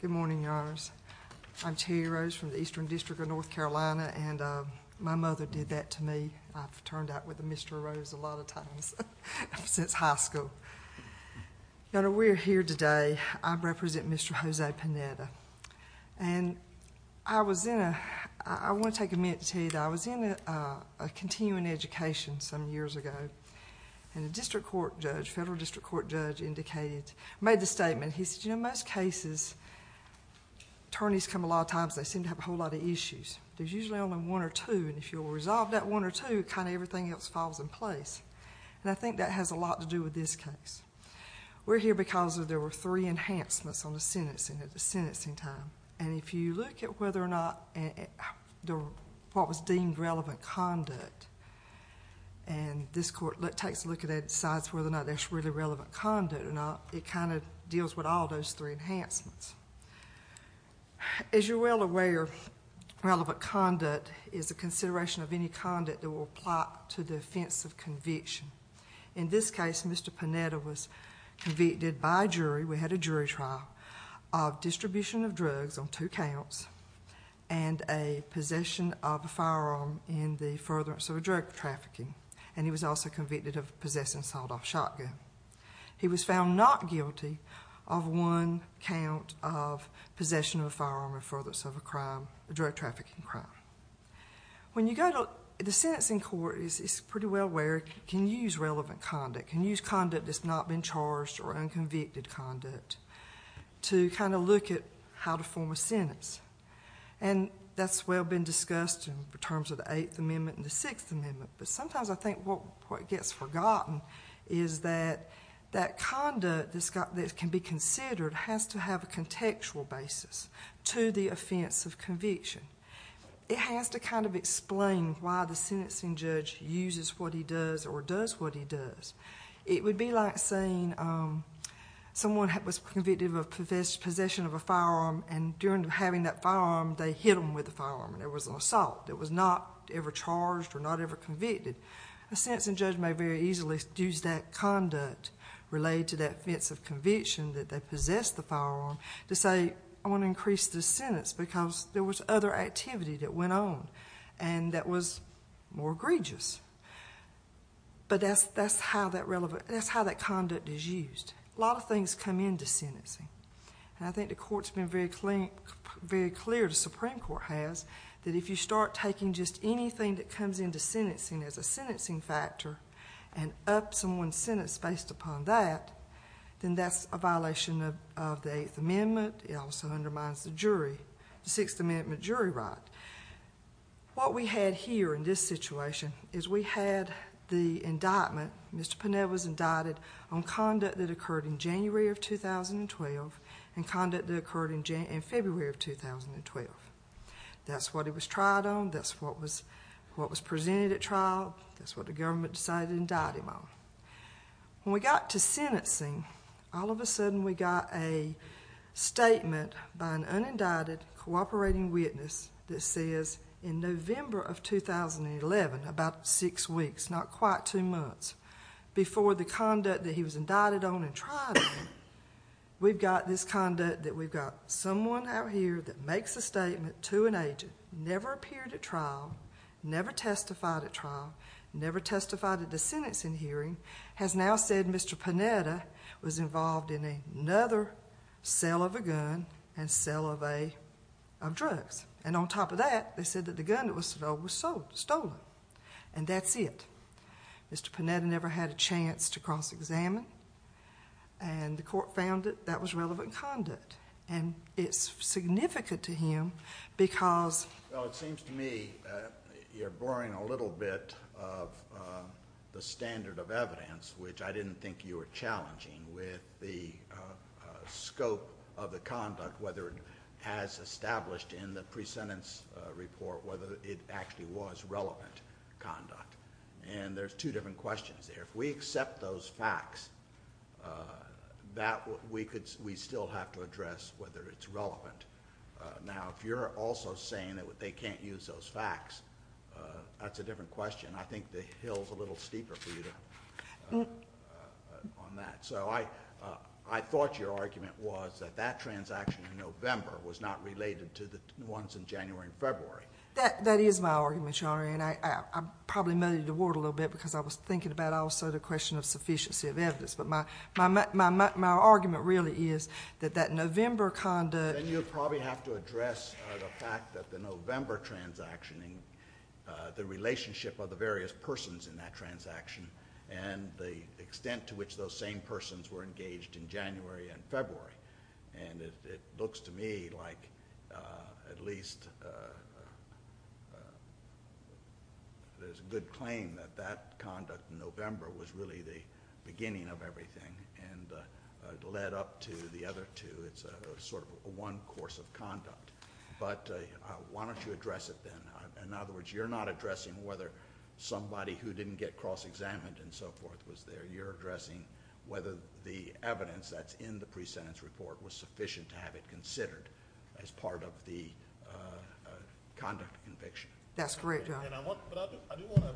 Good morning, your honors. I'm Terri Rose from the Eastern District of North Carolina and my mother did that to me. I've turned out with the Mr. Rose a lot of times since high school. You know, we're here today, I represent Mr. Jose Pineda. And I was in a I want to take a minute to tell you that I was in a continuing education some years ago and a district court judge, federal district court judge, indicated, made the statement. He said, you know, most cases, attorneys come a lot of times, they seem to have a whole lot of issues. There's usually only one or two, and if you'll resolve that one or two, kind of everything else falls in place. And I think that has a lot to do with this case. We're here because there were three enhancements on the sentencing at the sentencing time. And if you look at whether or not what was deemed relevant conduct, and this court takes a look at it and decides whether or not that's really relevant conduct or not, it kind of deals with all those three enhancements. As you're well aware, relevant conduct is a consideration of any conduct that will apply to the offense of conviction. In this case, Mr. Pineda was on two counts and a possession of a firearm in the furtherance of a drug trafficking, and he was also convicted of possessing a sawed-off shotgun. He was found not guilty of one count of possession of a firearm in furtherance of a drug trafficking crime. When you go to the sentencing court, it's pretty well aware, can you use relevant conduct? Can you use conduct that's not been charged or unconvicted conduct to kind of look at how to form a sentence? And that's well been discussed in terms of the Eighth Amendment and the Sixth Amendment, but sometimes I think what gets forgotten is that that conduct that can be considered has to have a contextual basis to the offense of conviction. It has to kind of explain why the sentencing judge uses what he does or does what he does. It was an assault, and during having that firearm, they hit him with the firearm. It was an assault that was not ever charged or not ever convicted. A sentencing judge may very easily use that conduct related to that offense of conviction that they possessed the firearm to say, I want to increase this sentence because there was other activity that went on and that was more egregious. But that's how that conduct is used. A lot of things come into sentencing. I think the Court's been very clear, the Supreme Court has, that if you start taking just anything that comes into sentencing as a sentencing factor and up someone's sentence based upon that, then that's a violation of the Eighth Amendment. It also undermines the jury, the Sixth Amendment jury right. What we had here in this situation is we had the indictment, Mr. Pinell was indicted on conduct that occurred in January of 2012 and conduct that occurred in February of 2012. That's what he was tried on, that's what was presented at trial, that's what the government decided to indict him on. When we got to sentencing, all of a sudden we got a statement by an unindicted cooperating witness that says in November of 2011, about six weeks, not quite two months, before the conduct that he was indicted on and tried on, we've got this conduct that we've got someone out here that makes a statement to an agent, never appeared at trial, never testified at trial, never testified at the sentencing hearing, has now said Mr. Pinell was involved in another sale of a gun and sale of drugs. And on top of that, they said that the gun that was sold was stolen. And that's it. Mr. Pinell never had a chance to cross-examine and the court found that that was relevant conduct. And it's significant to him because... Well, it seems to me you're blurring a little bit of the standard of evidence, which I didn't think you were challenging, with the scope of the conduct, whether it has established in the pre-sentence report whether it actually was relevant conduct. And there's two different questions there. If we accept those facts, we still have to address whether it's relevant. Now, if you're also saying that they can't use those facts, that's a different question. I think the hill's a little steeper for you on that. So I thought your argument was that that transaction in November was not related to the ones in January and February. That is my argument, Your Honor. And I probably muddied the water a little bit because I was thinking about also the question of sufficiency of evidence. But my argument really is that that November conduct... Then you'll probably have to address the fact that the November transaction, the relationship of the various persons in that transaction, and the extent to which those same persons were engaged in January and February. And it looks to me like at least there's a good claim that that conduct in November was really the beginning of everything and led up to the other two. It's sort of one course of conduct. But why don't you address it then? In other words, you're not addressing whether somebody who didn't get cross-examined and so forth was there. You're addressing whether the evidence that's in the pre-sentence report was sufficient to have it considered as part of the conduct conviction. That's correct, Your Honor. But I do want to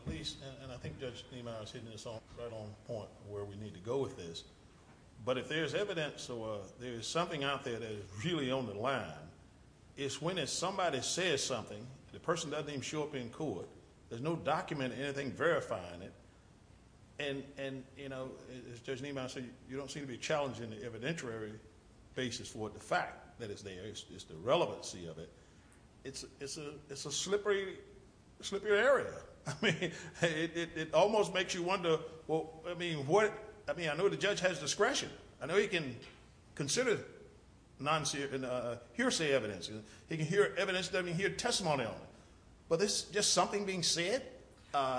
at least, and I think Judge Niemeyer's hitting this right on point, where we need to go with this. But if there's evidence or there's something out there that is really on the line, it's when somebody says something, the person doesn't even show up in court, there's no document or anything verifying it. And as Judge Niemeyer said, you don't seem to be challenging the evidentiary basis for the fact that it's there. It's the relevancy of it. It's a slippery area. It almost makes you wonder, I mean, I know the judge has discretion. I know he can consider hearsay evidence. He can hear testimony on it. But there's just nothing being said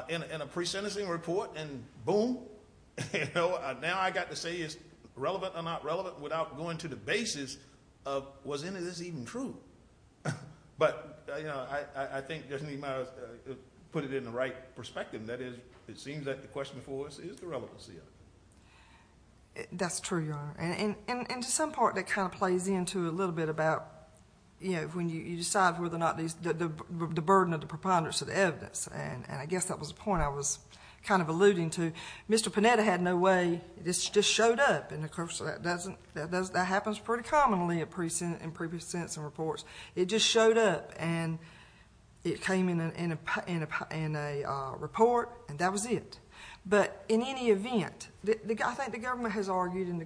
in a pre-sentencing report and boom, now I've got to say it's relevant or not relevant without going to the basis of was any of this even true. But I think Judge Niemeyer put it in the right perspective. That is, it seems that the question for us is the relevancy of it. That's true, Your Honor. And to some part that kind of plays into a little bit about when you decide whether or not the burden of the preponderance of the evidence. And I guess that was the point I was kind of alluding to. Mr. Panetta had no way, it just showed up. That happens pretty commonly in pre-sentencing reports. It just showed up and it came in a report and that was it. But in any event, I think the government has argued and the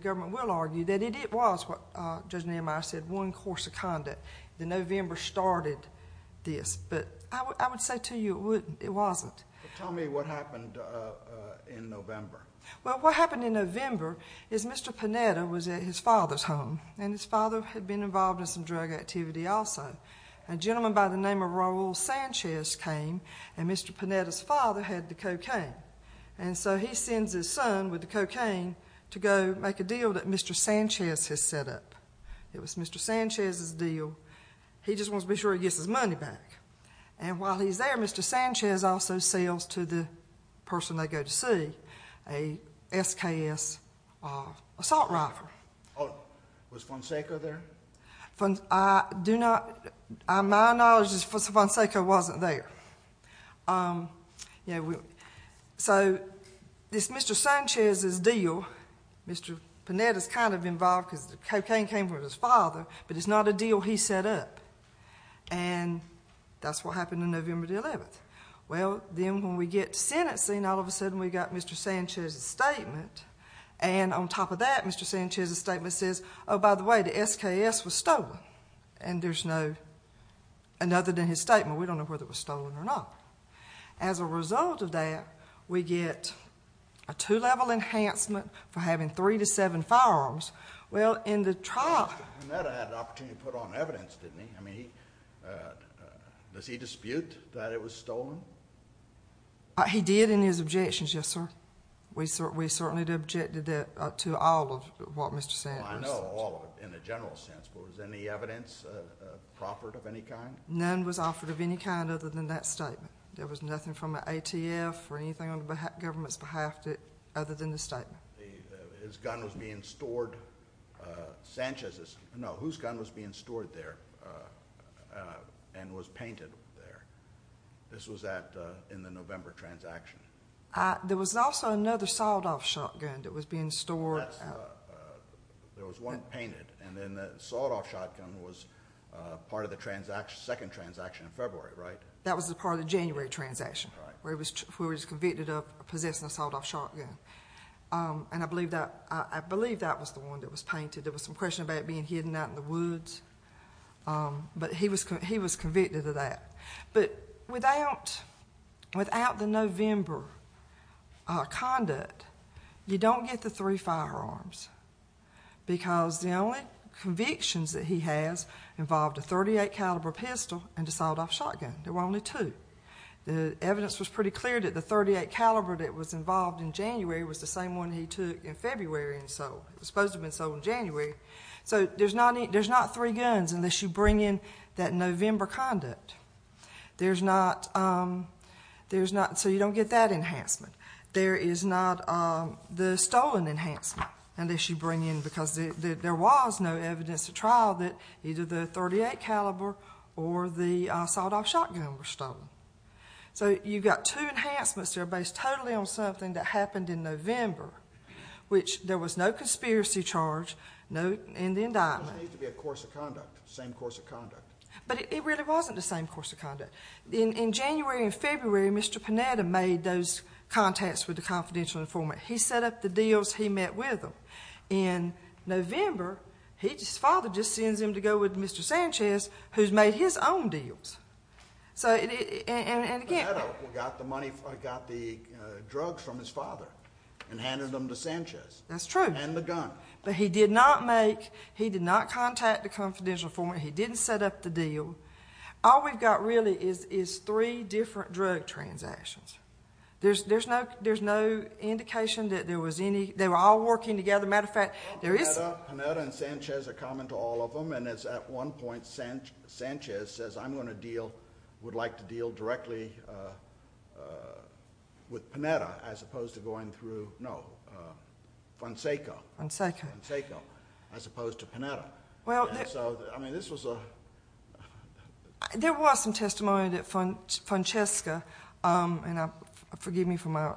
November started this. But I would say to you it wasn't. Tell me what happened in November. Well, what happened in November is Mr. Panetta was at his father's home and his father had been involved in some drug activity also. A gentleman by the name of Raul Sanchez came and Mr. Panetta's father had the cocaine. And so he sends his son with the cocaine to go make a deal that Mr. Sanchez has set up. It was Mr. Sanchez's deal. He just wants to be sure he gets his money back. And while he's there, Mr. Sanchez also sells to the person they go to see a SKS assault rifle. Was Fonseca there? My knowledge is Fonseca wasn't there. So this Mr. Sanchez's deal, Mr. Panetta's kind of involved because the cocaine came from his father, but it's not a deal he set up. And that's what happened in November the 11th. Well, then when we get to sentencing, all of a sudden we got Mr. Sanchez's statement. And on top of that, Mr. Sanchez's statement says, oh, by the way, the SKS was stolen. And there's no other than his statement. We don't know whether it was stolen or not. As a result of that, we get a two-level enhancement for having three to seven firearms. Well, in the trial... Mr. Panetta had an opportunity to put on evidence, didn't he? I mean, does he dispute that it was stolen? He did in his objections, yes, sir. We certainly objected to all of what Mr. Sanchez... Well, I know all of it in a general sense, but was any evidence proffered of any kind? None was offered of any kind other than that statement. There was nothing from the ATF or anything on the government's behalf other than the statement. His gun was being stored, Sanchez's, no, whose gun was being stored there and was painted there? This was in the November transaction. There was also another sawed-off shotgun that was being stored... There was one painted, and then the sawed-off shotgun was part of the second transaction in February, right? That was the part of the January transaction where he was convicted of possessing a sawed-off shotgun. And I believe that was the one that was painted. There was some question about it being hidden out in the woods, but he was convicted of that. But without the November conduct, you don't get the three firearms because the only convictions that he has involved a .38 caliber pistol and a sawed-off shotgun. There were only two. The evidence was pretty clear that the .38 caliber that was involved in January was the same one he took in February and sold. It was supposed to have been sold in January. So there's not three guns unless you bring in that November conduct. So you don't get that enhancement. There is not the stolen enhancement unless you bring in, because there was no evidence at trial that either the .38 caliber or the sawed-off shotgun were stolen. So you've got two enhancements that are based totally on something that happened in November, which there was no conspiracy charge, no indictment. It doesn't need to be a course of conduct, same course of conduct. But it really wasn't the same course of conduct. In January and February, Mr. Panetta made those contacts with the confidential informant. He set up the deals he met with him. In November, his father just sends him to go with Mr. Sanchez, who's made his own deals. Panetta got the drugs from his father and handed them to Sanchez. That's true. And the gun. But he did not make, he did not contact the confidential informant. He didn't set up the deal. All we've got really is three different drug transactions. There's no indication that there was any, they were all working together. Matter of fact, there is... Panetta and Sanchez are common to all of them, and it's at one point Sanchez says, I'm going to deal, would like to deal directly with Panetta as opposed to going through, no, Fonseca. Fonseca, as opposed to Panetta. Well... I mean, this was a... There was some testimony that Francesca, and forgive me for my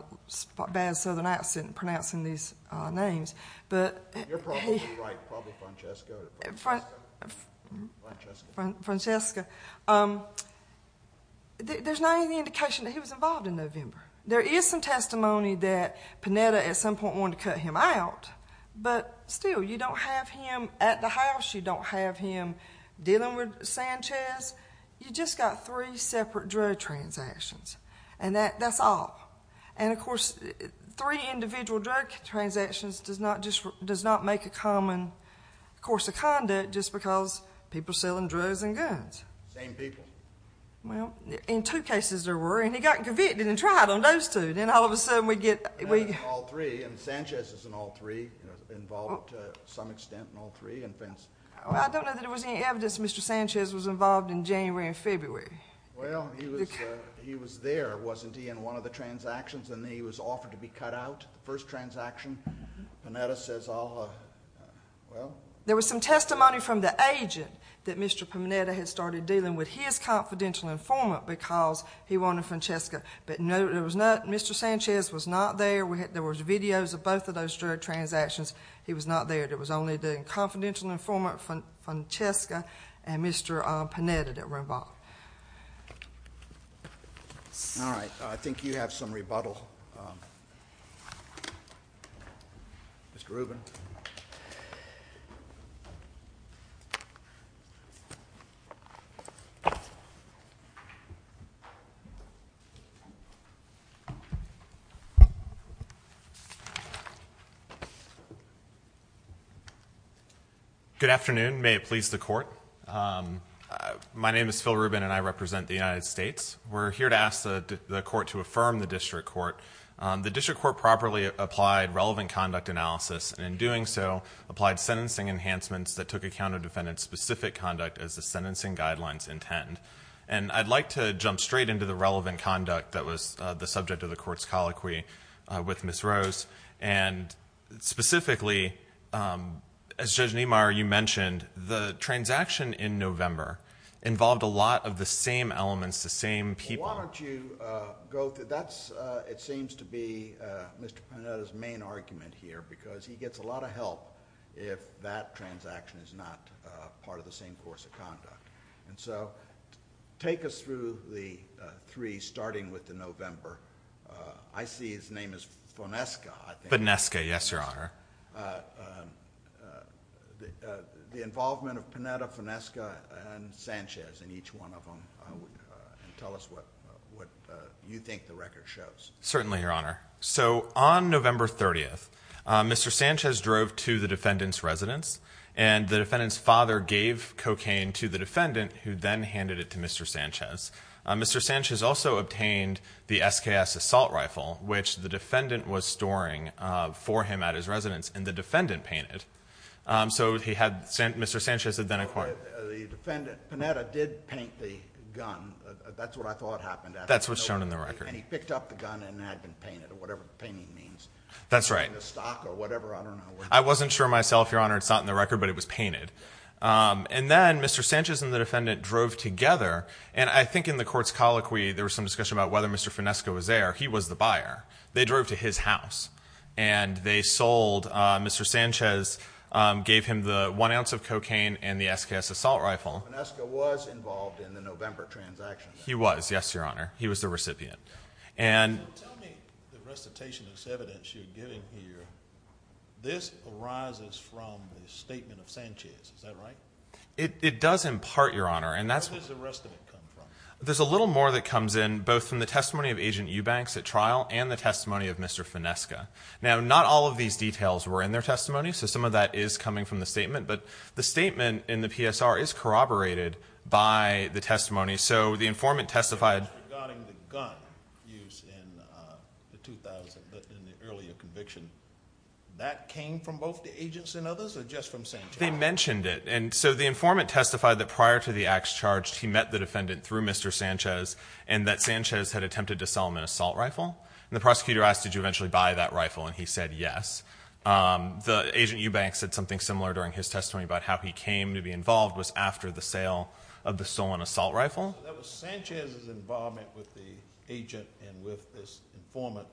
bad southern accent pronouncing these names, but... You're probably right, probably Francesca or... Francesca. Francesca. There's not any indication that he was involved in November. There is some testimony that Panetta at some point wanted to cut him out, but still, you don't have him at the house, you don't have him dealing with Sanchez. You've just got three separate drug transactions, and that's all. And of course, three individual drug transactions does not make a common course of conduct just because people are selling drugs and guns. Same people. Well, in two cases there were, and he got convicted and tried on those two, then all of a sudden we get... All three, and Sanchez is in all three, involved to some extent in all three. I don't know that there was any evidence that Mr. Sanchez was involved in January and February. Well, he was there, wasn't he, in one of the transactions, and then he was offered to be cut out, the first transaction. Panetta says, well... There was some testimony from the agent that Mr. Panetta had started dealing with his confidential informant because he wanted Francesca, but no, there was not. Mr. Sanchez was not there. There were videos of both of those drug transactions. He was not there. There was only the confidential informant, Francesca, and Mr. Panetta that were involved. All right. I think you have some rebuttal. Mr. Rubin. Good afternoon. May it please the Court. My name is Phil Rubin, and I represent the United States. We're here to ask the Court to affirm the District Court. The District Court properly applied relevant conduct analysis, and in doing so, applied sentencing enhancements that took account of defendant-specific conduct as the sentencing guidelines intend. And I'd like to jump straight into the relevant conduct that was the subject of the Court's colloquy with Ms. Rose. And specifically, as Judge Niemeyer, you mentioned, the transaction in November involved a lot of the same elements, the same people. Why don't you go through that? It seems to be Mr. Panetta's main argument here, because he gets a lot of help if that transaction is not part of the same course of conduct. And so take us through the three, starting with the November. I see his name is Fonesca, I think. Fonesca, yes, Your Honor. The involvement of Panetta, Fonesca, and Sanchez in each one of them. Tell us what you think the record shows. Certainly, Your Honor. So on November 30th, Mr. Sanchez drove to the defendant's residence, and the defendant's father gave cocaine to the defendant, who then handed it to Mr. Sanchez. Mr. Sanchez also obtained the SKS assault rifle, which the defendant was storing for him at his residence, and the defendant painted it. So Mr. Sanchez had then acquired it. The defendant, Panetta, did paint the gun. That's what I thought happened. That's what's shown in the record. And he picked up the gun, and it had been painted, or whatever painting means. That's right. In the stock or whatever, I don't know. I wasn't sure myself, Your Honor. It's not in the record, but it was painted. And then Mr. Sanchez and the defendant drove together. And I think in the court's colloquy, there was some discussion about whether Mr. Finesco was there. He was the buyer. They drove to his house, and they sold. Mr. Sanchez gave him the one ounce of cocaine and the SKS assault rifle. Finesco was involved in the November transaction. He was, yes, Your Honor. He was the recipient. Tell me the recitationist evidence you're giving here. This arises from the statement of Sanchez. Is that right? It does in part, Your Honor. Where does the rest of it come from? There's a little more that comes in, both from the testimony of Agent Eubanks at trial and the testimony of Mr. Finesco. Now, not all of these details were in their testimony, so some of that is coming from the statement. But the statement in the PSR is corroborated by the testimony. So the informant testified. Regarding the gun used in the earlier conviction, that came from both the agents and others, or just from Sanchez? They mentioned it. And so the informant testified that prior to the acts charged, he met the defendant through Mr. Sanchez, and that Sanchez had attempted to sell him an assault rifle. And the prosecutor asked, did you eventually buy that rifle? And he said yes. Agent Eubanks said something similar during his testimony about how he came to be involved was after the sale of the stolen assault rifle. So that was Sanchez's involvement with the agent and with this informant.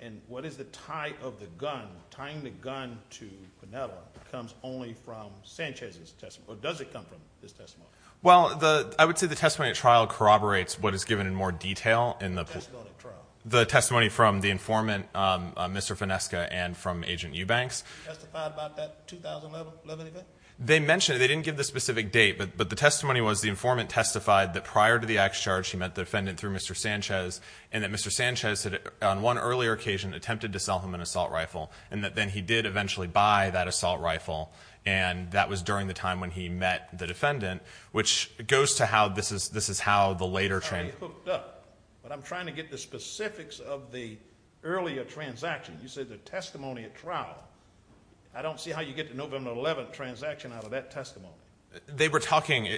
And what is the tie of the gun? Tying the gun to Piniella comes only from Sanchez's testimony. Or does it come from his testimony? Well, I would say the testimony at trial corroborates what is given in more detail. The testimony at trial. The testimony from the informant, Mr. Finesco, and from Agent Eubanks. Testified about that 2011 event? They mentioned it. They didn't give the specific date. But the testimony was the informant testified that prior to the acts charged, he met the defendant through Mr. Sanchez, and that Mr. Sanchez had, on one earlier occasion, attempted to sell him an assault rifle. And that then he did eventually buy that assault rifle. And that was during the time when he met the defendant. Which goes to how this is how the later. I'm trying to get the specifics of the earlier transaction. You said the testimony at trial. I don't see how you get the November 11th transaction out of that testimony. They were talking.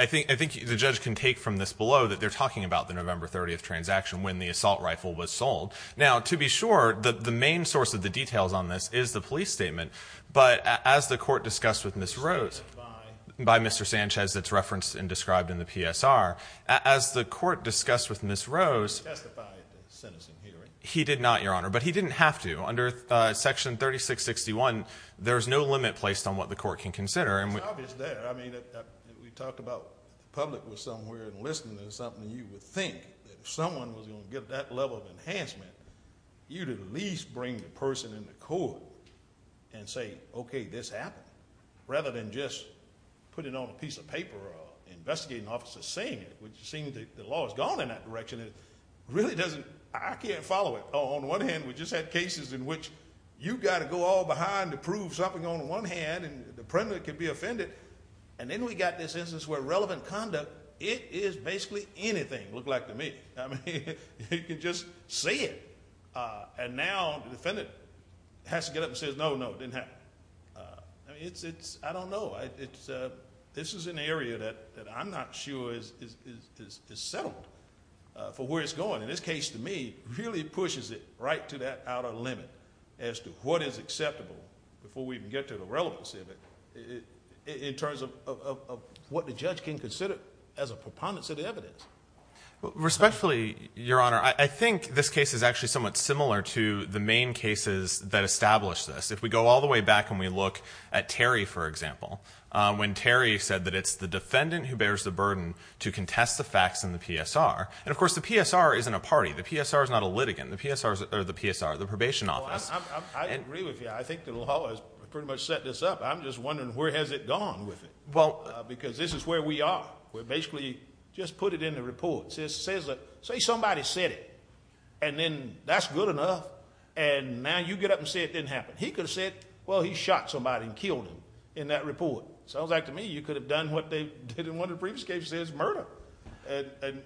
I think the judge can take from this below that they're talking about the November 30th transaction when the assault rifle was sold. Now, to be sure, the main source of the details on this is the police statement. But as the court discussed with Ms. Rose, by Mr. Sanchez, it's referenced and described in the PSR. As the court discussed with Ms. Rose, he did not, Your Honor. But he didn't have to. Under Section 3661, there's no limit placed on what the court can consider. It's obvious there. I mean, we talked about the public was somewhere and listening to something. You would think that if someone was going to get that level of enhancement, you'd at least bring the person in the court and say, okay, this happened. Rather than just put it on a piece of paper or an investigating officer saying it, which it seems the law has gone in that direction. It really doesn't. I can't follow it. On one hand, we just had cases in which you've got to go all behind to prove something on one hand. And the defendant can be offended. And then we've got this instance where relevant conduct, it is basically anything, looked like to me. I mean, you can just see it. And now the defendant has to get up and say, no, no, it didn't happen. I don't know. This is an area that I'm not sure is settled for where it's going. And this case, to me, really pushes it right to that outer limit as to what is acceptable before we even get to the relevance of it in terms of what the judge can consider as a preponderance of the evidence. Respectfully, Your Honor, I think this case is actually somewhat similar to the main cases that establish this. If we go all the way back and we look at Terry, for example, when Terry said that it's the defendant who bears the burden to contest the facts in the PSR. And, of course, the PSR isn't a party. The PSR is not a litigant. The PSR is the probation office. I agree with you. I think the law has pretty much set this up. I'm just wondering where has it gone with it because this is where we are. We basically just put it in the report. It says that, say somebody said it, and then that's good enough. And now you get up and say it didn't happen. He could have said, well, he shot somebody and killed him in that report. Sounds like to me you could have done what they did in one of the previous cases, murder,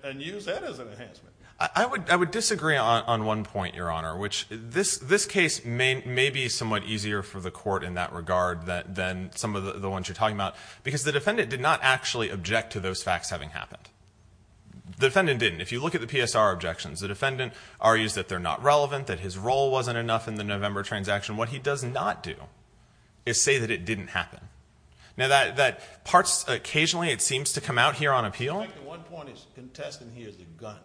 and used that as an enhancement. I would disagree on one point, Your Honor, which this case may be somewhat easier for the court in that regard than some of the ones you're talking about because the defendant did not actually object to those facts having happened. The defendant didn't. If you look at the PSR objections, the defendant argues that they're not relevant, that his role wasn't enough in the November transaction. What he does not do is say that it didn't happen. Occasionally it seems to come out here on appeal. I think the one point he's contesting here is the gun.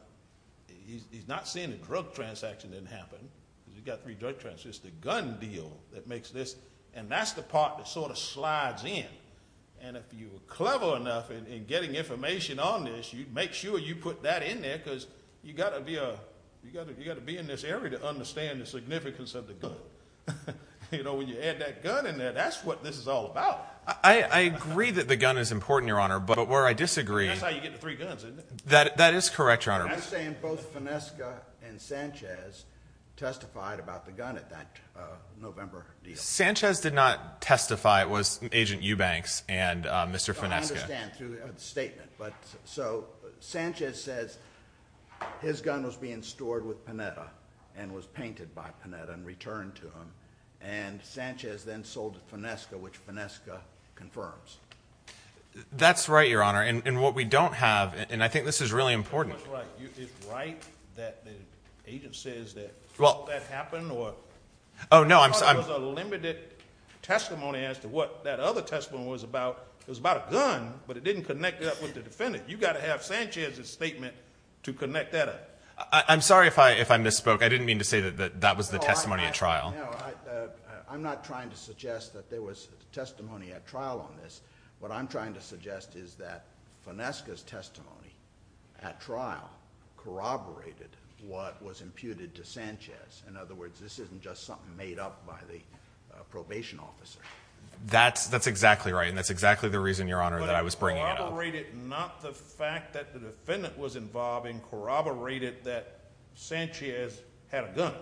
He's not saying the drug transaction didn't happen because he's got three drug transactions. It's the gun deal that makes this, and that's the part that sort of slides in. And if you were clever enough in getting information on this, you'd make sure you put that in there because you've got to be in this area to understand the significance of the gun. When you add that gun in there, that's what this is all about. I agree that the gun is important, Your Honor, but where I disagree— That's how you get the three guns, isn't it? That is correct, Your Honor. I'm saying both Finesca and Sanchez testified about the gun at that November deal. Sanchez did not testify. It was Agent Eubanks and Mr. Finesca. So Sanchez says his gun was being stored with Panetta and was painted by Panetta and returned to him, and Sanchez then sold it to Finesca, which Finesca confirms. That's right, Your Honor. And what we don't have—and I think this is really important. Is it right that the agent says that all that happened? Oh, no, I'm— I'm sorry if I misspoke. I didn't mean to say that that was the testimony at trial. No, I'm not trying to suggest that there was testimony at trial on this. What I'm trying to suggest is that Finesca's testimony at trial corroborated what was imputed to Sanchez. In other words, this isn't just something made up by the probation officer. That's exactly right, and that's exactly the reason, Your Honor, that I was bringing it up. But it corroborated not the fact that the defendant was involved and corroborated that Sanchez had a gun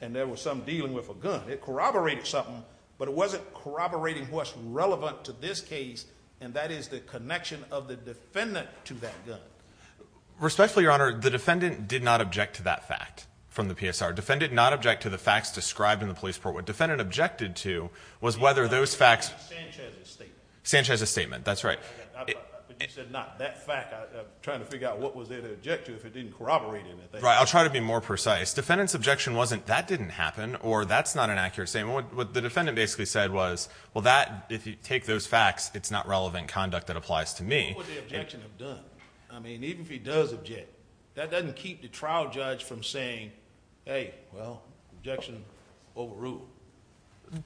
and there was some dealing with a gun. It corroborated something, but it wasn't corroborating what's relevant to this case, and that is the connection of the defendant to that gun. Respectfully, Your Honor, the defendant did not object to that fact from the PSR. Defendant did not object to the facts described in the police report. What the defendant objected to was whether those facts— Not Sanchez's statement. Sanchez's statement, that's right. But you said not that fact. I'm trying to figure out what was there to object to if it didn't corroborate anything. I'll try to be more precise. Defendant's objection wasn't that didn't happen or that's not an accurate statement. What the defendant basically said was, well, if you take those facts, it's not relevant conduct that applies to me. What would the objection have done? I mean, even if he does object, that doesn't keep the trial judge from saying, hey, well, objection overruled.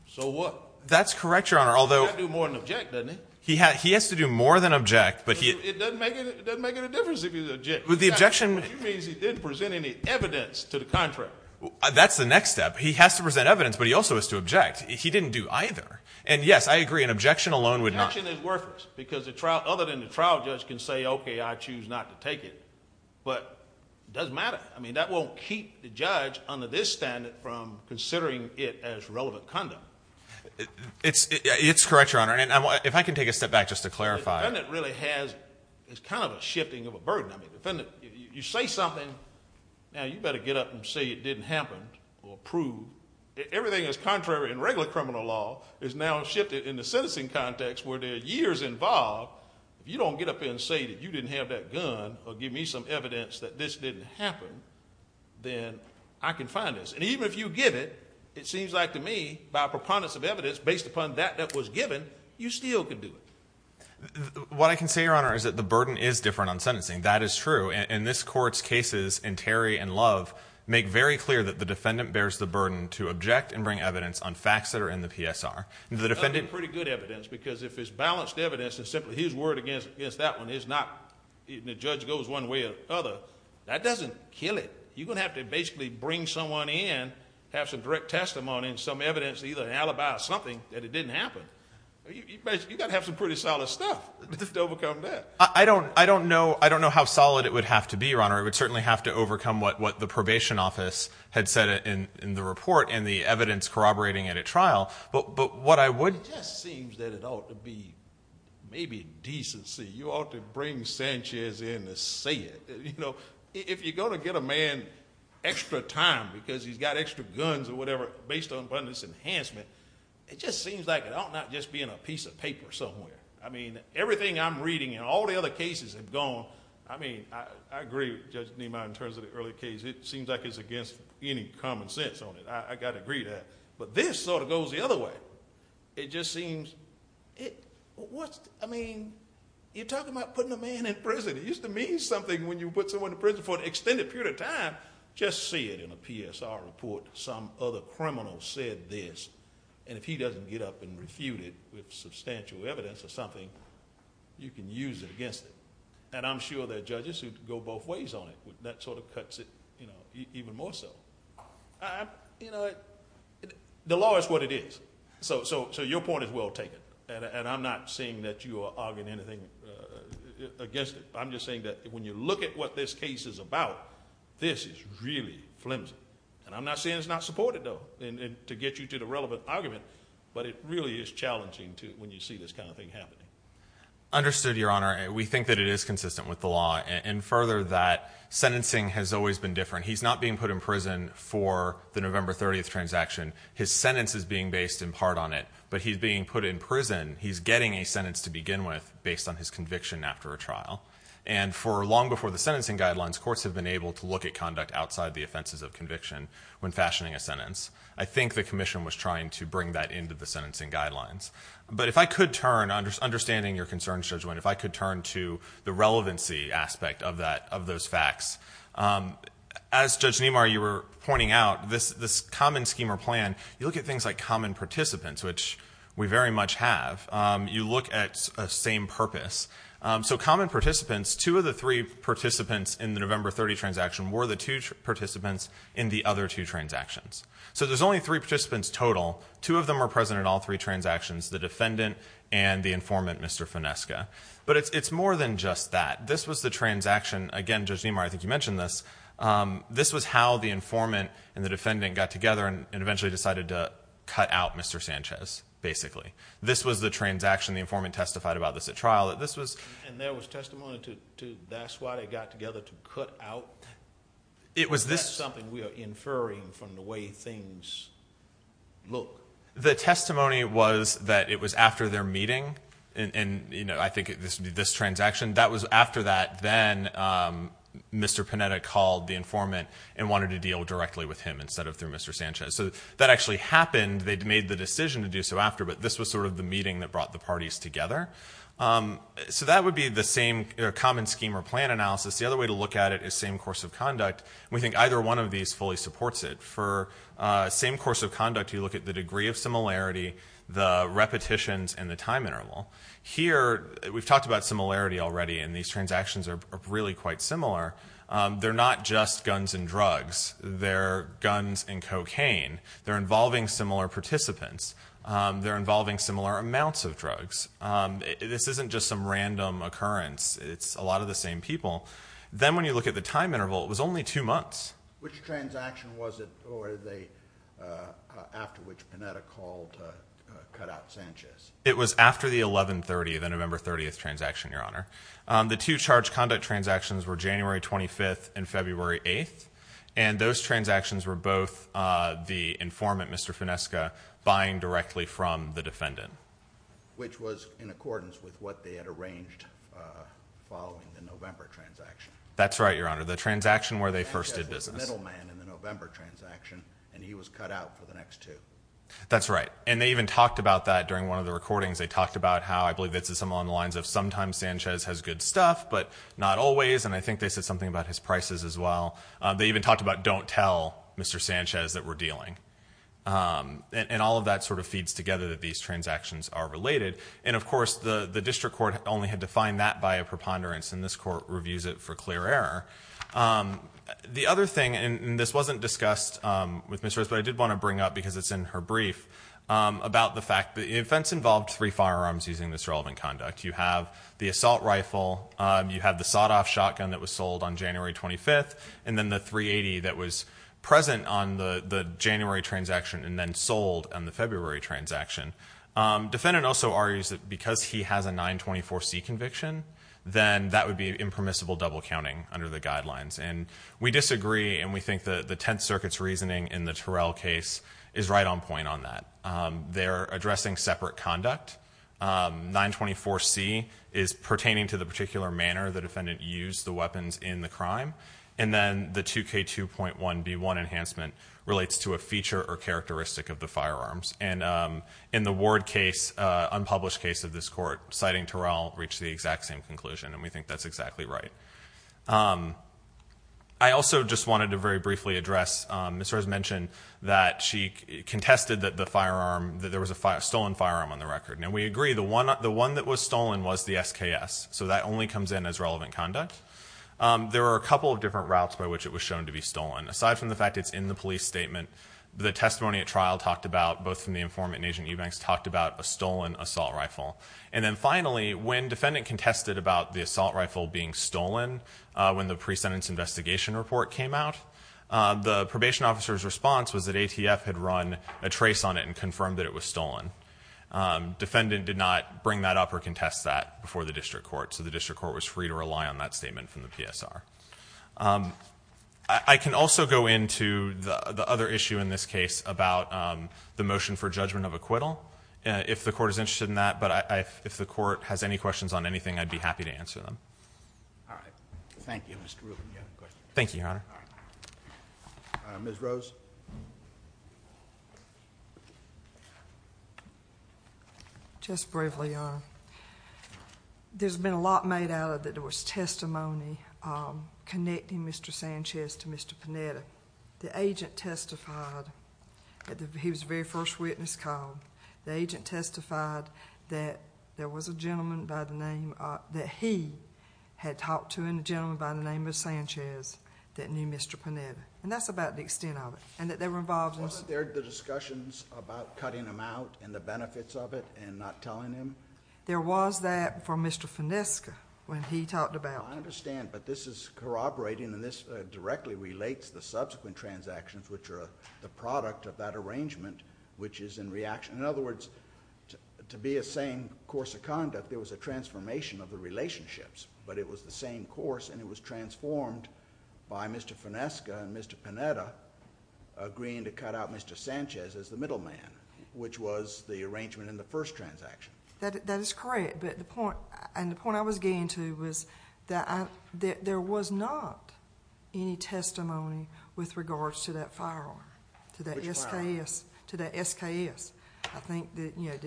So what? That's correct, Your Honor, although— He has to do more than object, doesn't he? He has to do more than object, but he— It doesn't make any difference if he objects. The objection— Which means he didn't present any evidence to the contractor. That's the next step. He has to present evidence, but he also has to object. He didn't do either. And, yes, I agree, an objection alone would not— Objection is worthless because other than the trial judge can say, okay, I choose not to take it, but it doesn't matter. I mean, that won't keep the judge under this standard from considering it as relevant conduct. It's correct, Your Honor, and if I can take a step back just to clarify— The defendant really has—it's kind of a shifting of a burden. I mean, the defendant, you say something, now you better get up and say it didn't happen or prove. Everything that's contrary in regular criminal law is now shifted in the citizen context where there are years involved. If you don't get up and say that you didn't have that gun or give me some evidence that this didn't happen, then I can find this. And even if you give it, it seems like to me, by preponderance of evidence, based upon that that was given, you still could do it. What I can say, Your Honor, is that the burden is different on sentencing. That is true, and this Court's cases in Terry and Love make very clear that the defendant bears the burden to object and bring evidence on facts that are in the PSR. The defendant— if you use word against that one, it's not—the judge goes one way or the other. That doesn't kill it. You're going to have to basically bring someone in, have some direct testimony and some evidence, either an alibi or something, that it didn't happen. You've got to have some pretty solid stuff to overcome that. I don't know how solid it would have to be, Your Honor. I would certainly have to overcome what the probation office had said in the report and the evidence corroborating it at trial, but what I would— It just seems that it ought to be maybe decency. You ought to bring Sanchez in to say it. If you're going to get a man extra time because he's got extra guns or whatever based upon this enhancement, it just seems like it ought not just be in a piece of paper somewhere. I mean, everything I'm reading and all the other cases have gone— I mean, I agree with Judge Niemeyer in terms of the early case. It seems like it's against any common sense on it. I've got to agree to that. But this sort of goes the other way. It just seems— I mean, you're talking about putting a man in prison. It used to mean something when you put someone in prison for an extended period of time. Just see it in a PSR report, some other criminal said this, and if he doesn't get up and refute it with substantial evidence or something, you can use it against him. And I'm sure there are judges who go both ways on it. That sort of cuts it even more so. The law is what it is. So your point is well taken, and I'm not saying that you are arguing anything against it. I'm just saying that when you look at what this case is about, this is really flimsy. And I'm not saying it's not supported, though, to get you to the relevant argument, but it really is challenging when you see this kind of thing happening. Understood, Your Honor. We think that it is consistent with the law, and further that sentencing has always been different. He's not being put in prison for the November 30th transaction. His sentence is being based in part on it, but he's being put in prison. He's getting a sentence to begin with based on his conviction after a trial. And for long before the sentencing guidelines, courts have been able to look at conduct outside the offenses of conviction when fashioning a sentence. I think the commission was trying to bring that into the sentencing guidelines. But if I could turn, understanding your concerns, Judge Wendt, if I could turn to the relevancy aspect of those facts. As Judge Nemar, you were pointing out, this common scheme or plan, you look at things like common participants, which we very much have. You look at a same purpose. So common participants, two of the three participants in the November 30th transaction were the two participants in the other two transactions. So there's only three participants total. Two of them are present in all three transactions, the defendant and the informant, Mr. Finesca. But it's more than just that. This was the transaction. Again, Judge Nemar, I think you mentioned this. This was how the informant and the defendant got together and eventually decided to cut out Mr. Sanchez, basically. This was the transaction. The informant testified about this at trial. And there was testimony to that's why they got together, to cut out. That's something we are inferring from the way things look. The testimony was that it was after their meeting. And I think this would be this transaction. That was after that. Then Mr. Panetta called the informant and wanted to deal directly with him instead of through Mr. Sanchez. So that actually happened. They'd made the decision to do so after. But this was sort of the meeting that brought the parties together. So that would be the same common scheme or plan analysis. The other way to look at it is same course of conduct. We think either one of these fully supports it. For same course of conduct, you look at the degree of similarity, the repetitions, and the time interval. Here, we've talked about similarity already, and these transactions are really quite similar. They're not just guns and drugs. They're guns and cocaine. They're involving similar participants. They're involving similar amounts of drugs. This isn't just some random occurrence. It's a lot of the same people. Then when you look at the time interval, it was only two months. Which transaction was it after which Panetta called to cut out Sanchez? It was after the 11-30, the November 30th transaction, Your Honor. The two charge conduct transactions were January 25th and February 8th, and those transactions were both the informant, Mr. Finesca, buying directly from the defendant. Which was in accordance with what they had arranged following the November transaction. That's right, Your Honor. The transaction where they first did business. The middle man in the November transaction, and he was cut out for the next two. That's right. They even talked about that during one of the recordings. They talked about how, I believe this is on the lines of, sometimes Sanchez has good stuff, but not always. I think they said something about his prices as well. They even talked about don't tell Mr. Sanchez that we're dealing. All of that sort of feeds together that these transactions are related. Of course, the district court only had to find that by a preponderance, and this court reviews it for clear error. The other thing, and this wasn't discussed with Ms. Rose, but I did want to bring up, because it's in her brief, about the fact that the offense involved three firearms using this relevant conduct. You have the assault rifle. You have the sawed-off shotgun that was sold on January 25th, and then the .380 that was present on the January transaction and then sold on the February transaction. The defendant also argues that because he has a 924C conviction, then that would be impermissible double counting under the guidelines. We disagree, and we think the Tenth Circuit's reasoning in the Terrell case is right on point on that. They're addressing separate conduct. 924C is pertaining to the particular manner the defendant used the weapons in the crime, and then the 2K2.1B1 enhancement relates to a feature or characteristic of the firearms. In the Ward case, unpublished case of this court, citing Terrell, reached the exact same conclusion, and we think that's exactly right. I also just wanted to very briefly address, Ms. Rose mentioned that she contested that the firearm, that there was a stolen firearm on the record. Now, we agree, the one that was stolen was the SKS, so that only comes in as relevant conduct. There are a couple of different routes by which it was shown to be stolen. Aside from the fact it's in the police statement, the testimony at trial talked about, both from the informant and Agent Eubanks, talked about a stolen assault rifle. And then finally, when defendant contested about the assault rifle being stolen when the pre-sentence investigation report came out, the probation officer's response was that ATF had run a trace on it and confirmed that it was stolen. Defendant did not bring that up or contest that before the district court, so the district court was free to rely on that statement from the PSR. I can also go into the other issue in this case about the motion for judgment of acquittal, if the court is interested in that. But if the court has any questions on anything, I'd be happy to answer them. All right. Thank you, Mr. Rubin. You have a question? Thank you, Your Honor. All right. All right. Ms. Rose? Just briefly, Your Honor, there's been a lot made out of that there was testimony connecting Mr. Sanchez to Mr. Panetta. The agent testified that he was the very first witness called. The agent testified that there was a gentleman by the name that he had talked to and a gentleman by the name of Sanchez that knew Mr. Panetta, and that's about the extent of it, and that they were involved in this. Wasn't there the discussions about cutting him out and the benefits of it and not telling him? There was that for Mr. Finesca when he talked about it. I understand, but this is corroborating and this directly relates the subsequent transactions, which are the product of that arrangement, which is in reaction. In other words, to be a sane course of conduct, there was a transformation of the relationships, but it was the same course and it was transformed by Mr. Finesca and Mr. Panetta agreeing to cut out Mr. Sanchez as the middleman, which was the arrangement in the first transaction. That is correct, but the point I was getting to was that there was not any testimony with regards to that firearm, to that SKS. I think there have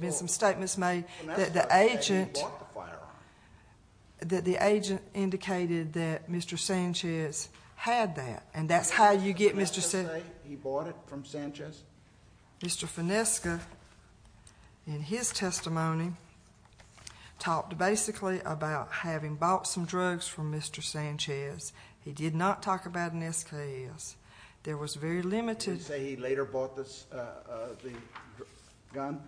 been some statements made that the agent indicated that Mr. Sanchez had that, and that's how you get Mr. Sanchez. Did Mr. Sanchez say he bought it from Sanchez? Mr. Finesca, in his testimony, talked basically about having bought some drugs from Mr. Sanchez. He did not talk about an SKS. There was very limited. Did he say he later bought the gun?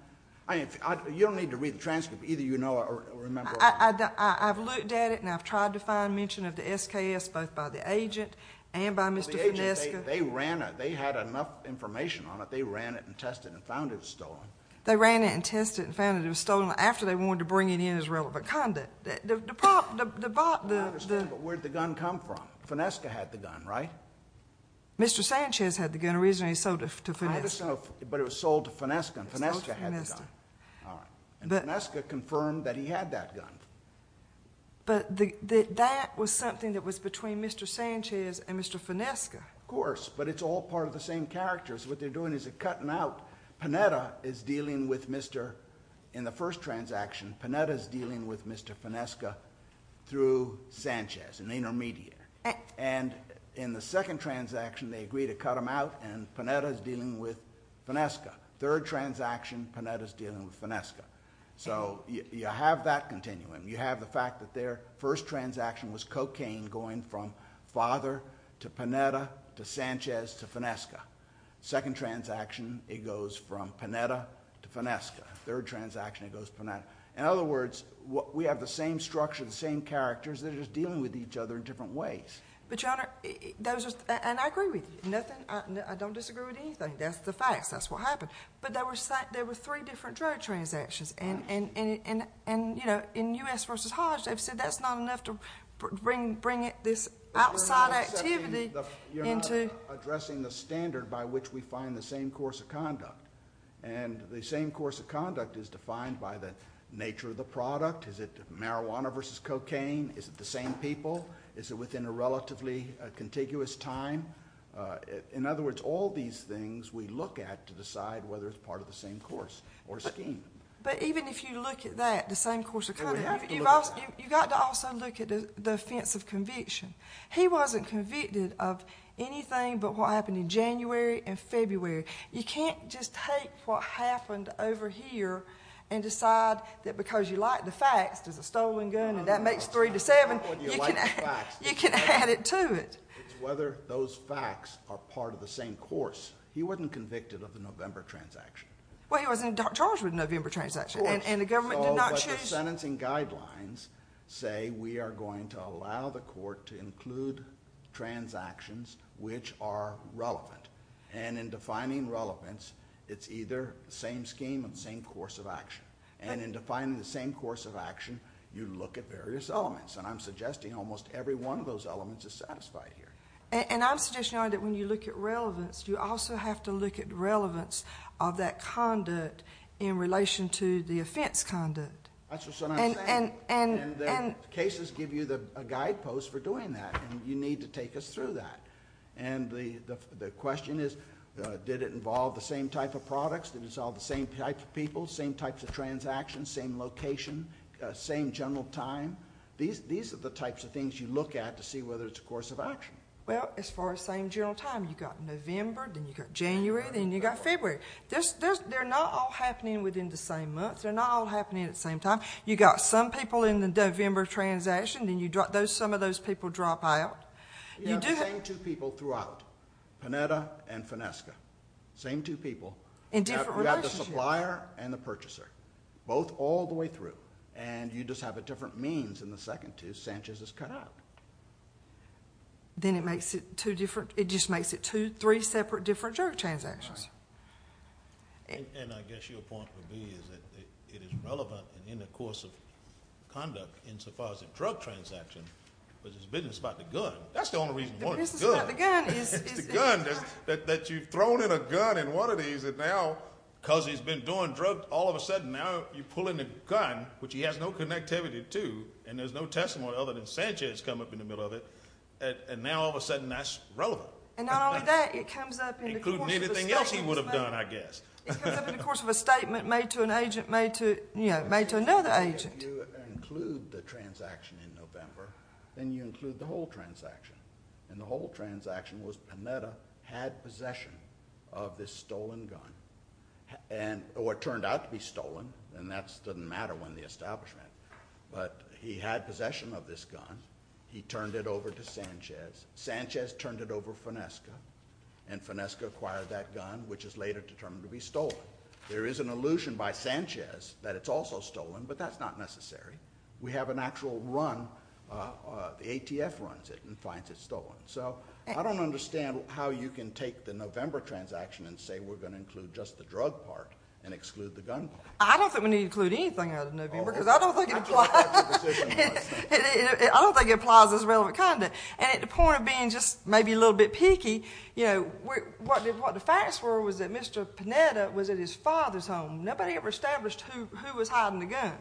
You don't need to read the transcript. Either you know or remember. I've looked at it and I've tried to find mention of the SKS, both by the agent and by Mr. Finesca. They ran it. They had enough information on it. They ran it and tested it and found it was stolen. They ran it and tested it and found it was stolen after they wanted to bring it in as relevant conduct. I understand, but where did the gun come from? Finesca had the gun, right? Mr. Sanchez had the gun. Originally, he sold it to Finesca. I understand, but it was sold to Finesca, and Finesca had the gun. All right. And Finesca confirmed that he had that gun. But that was something that was between Mr. Sanchez and Mr. Finesca. Of course, but it's all part of the same characters. What they're doing is they're cutting out. Panetta is dealing with Mr. In the first transaction, Panetta is dealing with Mr. Finesca through Sanchez, an intermediate. And in the second transaction, they agree to cut him out, and Panetta is dealing with Finesca. Third transaction, Panetta is dealing with Finesca. So you have that continuum. You have the fact that their first transaction was cocaine going from father to Panetta to Sanchez to Finesca. Second transaction, it goes from Panetta to Finesca. Third transaction, it goes to Panetta. In other words, we have the same structure, the same characters. They're just dealing with each other in different ways. But, Your Honor, and I agree with you. I don't disagree with anything. That's the facts. That's what happened. But there were three different drug transactions. And, you know, in U.S. v. Hodge, they've said that's not enough to bring this outside activity into. You're not addressing the standard by which we find the same course of conduct. And the same course of conduct is defined by the nature of the product. Is it marijuana versus cocaine? Is it the same people? Is it within a relatively contiguous time? In other words, all these things we look at to decide whether it's part of the same course or scheme. But even if you look at that, the same course of conduct, you've got to also look at the offense of conviction. He wasn't convicted of anything but what happened in January and February. You can't just take what happened over here and decide that because you like the facts, there's a stolen gun and that makes three to seven. You can add it to it. It's whether those facts are part of the same course. He wasn't convicted of the November transaction. Well, he wasn't charged with the November transaction. And the government did not choose. But the sentencing guidelines say we are going to allow the court to include transactions which are relevant. And in defining relevance, it's either the same scheme or the same course of action. And in defining the same course of action, you look at various elements. And I'm suggesting almost every one of those elements is satisfied here. And I'm suggesting that when you look at relevance, you also have to look at relevance of that conduct in relation to the offense conduct. That's what I'm saying. And the cases give you a guidepost for doing that. And you need to take us through that. And the question is, did it involve the same type of products? Did it involve the same type of people? Same types of transactions? Same location? Same general time? These are the types of things you look at to see whether it's a course of action. Well, as far as same general time, you've got November, then you've got January, then you've got February. They're not all happening within the same month. They're not all happening at the same time. You've got some people in the November transaction, then some of those people drop out. You have the same two people throughout, Panetta and Finesca. Same two people. In different relationships. You have the supplier and the purchaser, both all the way through. And you just have a different means in the second two. Sanchez is cut out. Then it makes it two different, it just makes it two, three separate different drug transactions. And I guess your point would be is that it is relevant in the course of conduct in so far as the drug transaction, but it's business about the gun. That's the only reason why it's good. The business about the gun is... It's the gun. That you've thrown in a gun in one of these, and now because he's been doing drugs, all of a sudden now you pull in a gun, which he has no connectivity to, and there's no testimony other than Sanchez come up in the middle of it, and now all of a sudden that's relevant. And not only that, it comes up in the course of a statement. Including anything else he would have done, I guess. It comes up in the course of a statement made to an agent, made to another agent. If you include the transaction in November, then you include the whole transaction. And the whole transaction was Panetta had possession of this stolen gun. Or it turned out to be stolen, and that doesn't matter when the establishment. But he had possession of this gun. He turned it over to Sanchez. Sanchez turned it over to Finesca, and Finesca acquired that gun, which is later determined to be stolen. There is an allusion by Sanchez that it's also stolen, but that's not necessary. We have an actual run... The ATF runs it and finds it stolen. So I don't understand how you can take the November transaction and say we're going to include just the drug part and exclude the gun part. I don't think we need to include anything out of November, because I don't think it applies. I don't think it applies as relevant conduct. And at the point of being just maybe a little bit picky, what the facts were was that Mr. Panetta was at his father's home. Nobody ever established who was hiding the gun,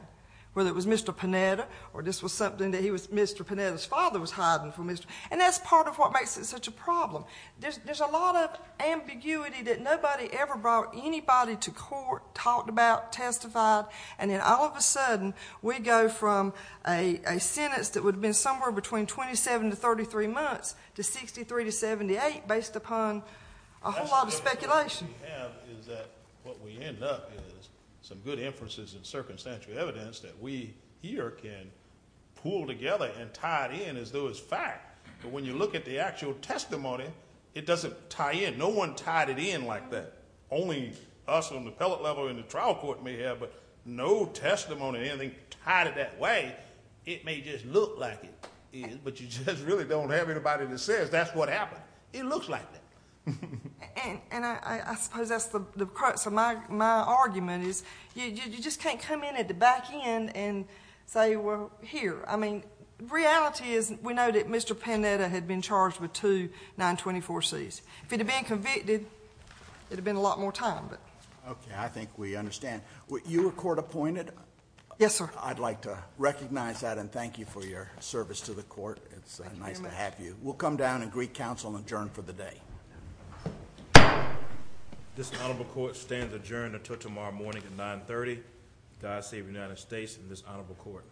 whether it was Mr. Panetta, or this was something that Mr. Panetta's father was hiding from Mr.... And that's part of what makes it such a problem. There's a lot of ambiguity that nobody ever brought anybody to court, talked about, testified, and then all of a sudden we go from a sentence that would have been somewhere between 27 to 33 months to 63 to 78 based upon a whole lot of speculation. What we end up is some good inferences and circumstantial evidence that we here can pool together and tie it in as though it's fact. But when you look at the actual testimony, it doesn't tie in. No one tied it in like that. Only us on the appellate level and the trial court may have, but no testimony or anything tied it that way. It may just look like it is, but you just really don't have anybody that says that's what happened. It looks like that. And I suppose that's the crux of my argument, is you just can't come in at the back end and say we're here. The reality is we know that Mr. Panetta had been charged with two 924Cs. If he'd have been convicted, it would have been a lot more time. Okay, I think we understand. You were court appointed? Yes, sir. I'd like to recognize that and thank you for your service to the court. It's nice to have you. We'll come down and greet counsel and adjourn for the day. This honorable court stands adjourned until tomorrow morning at 930. God save the United States and this honorable court.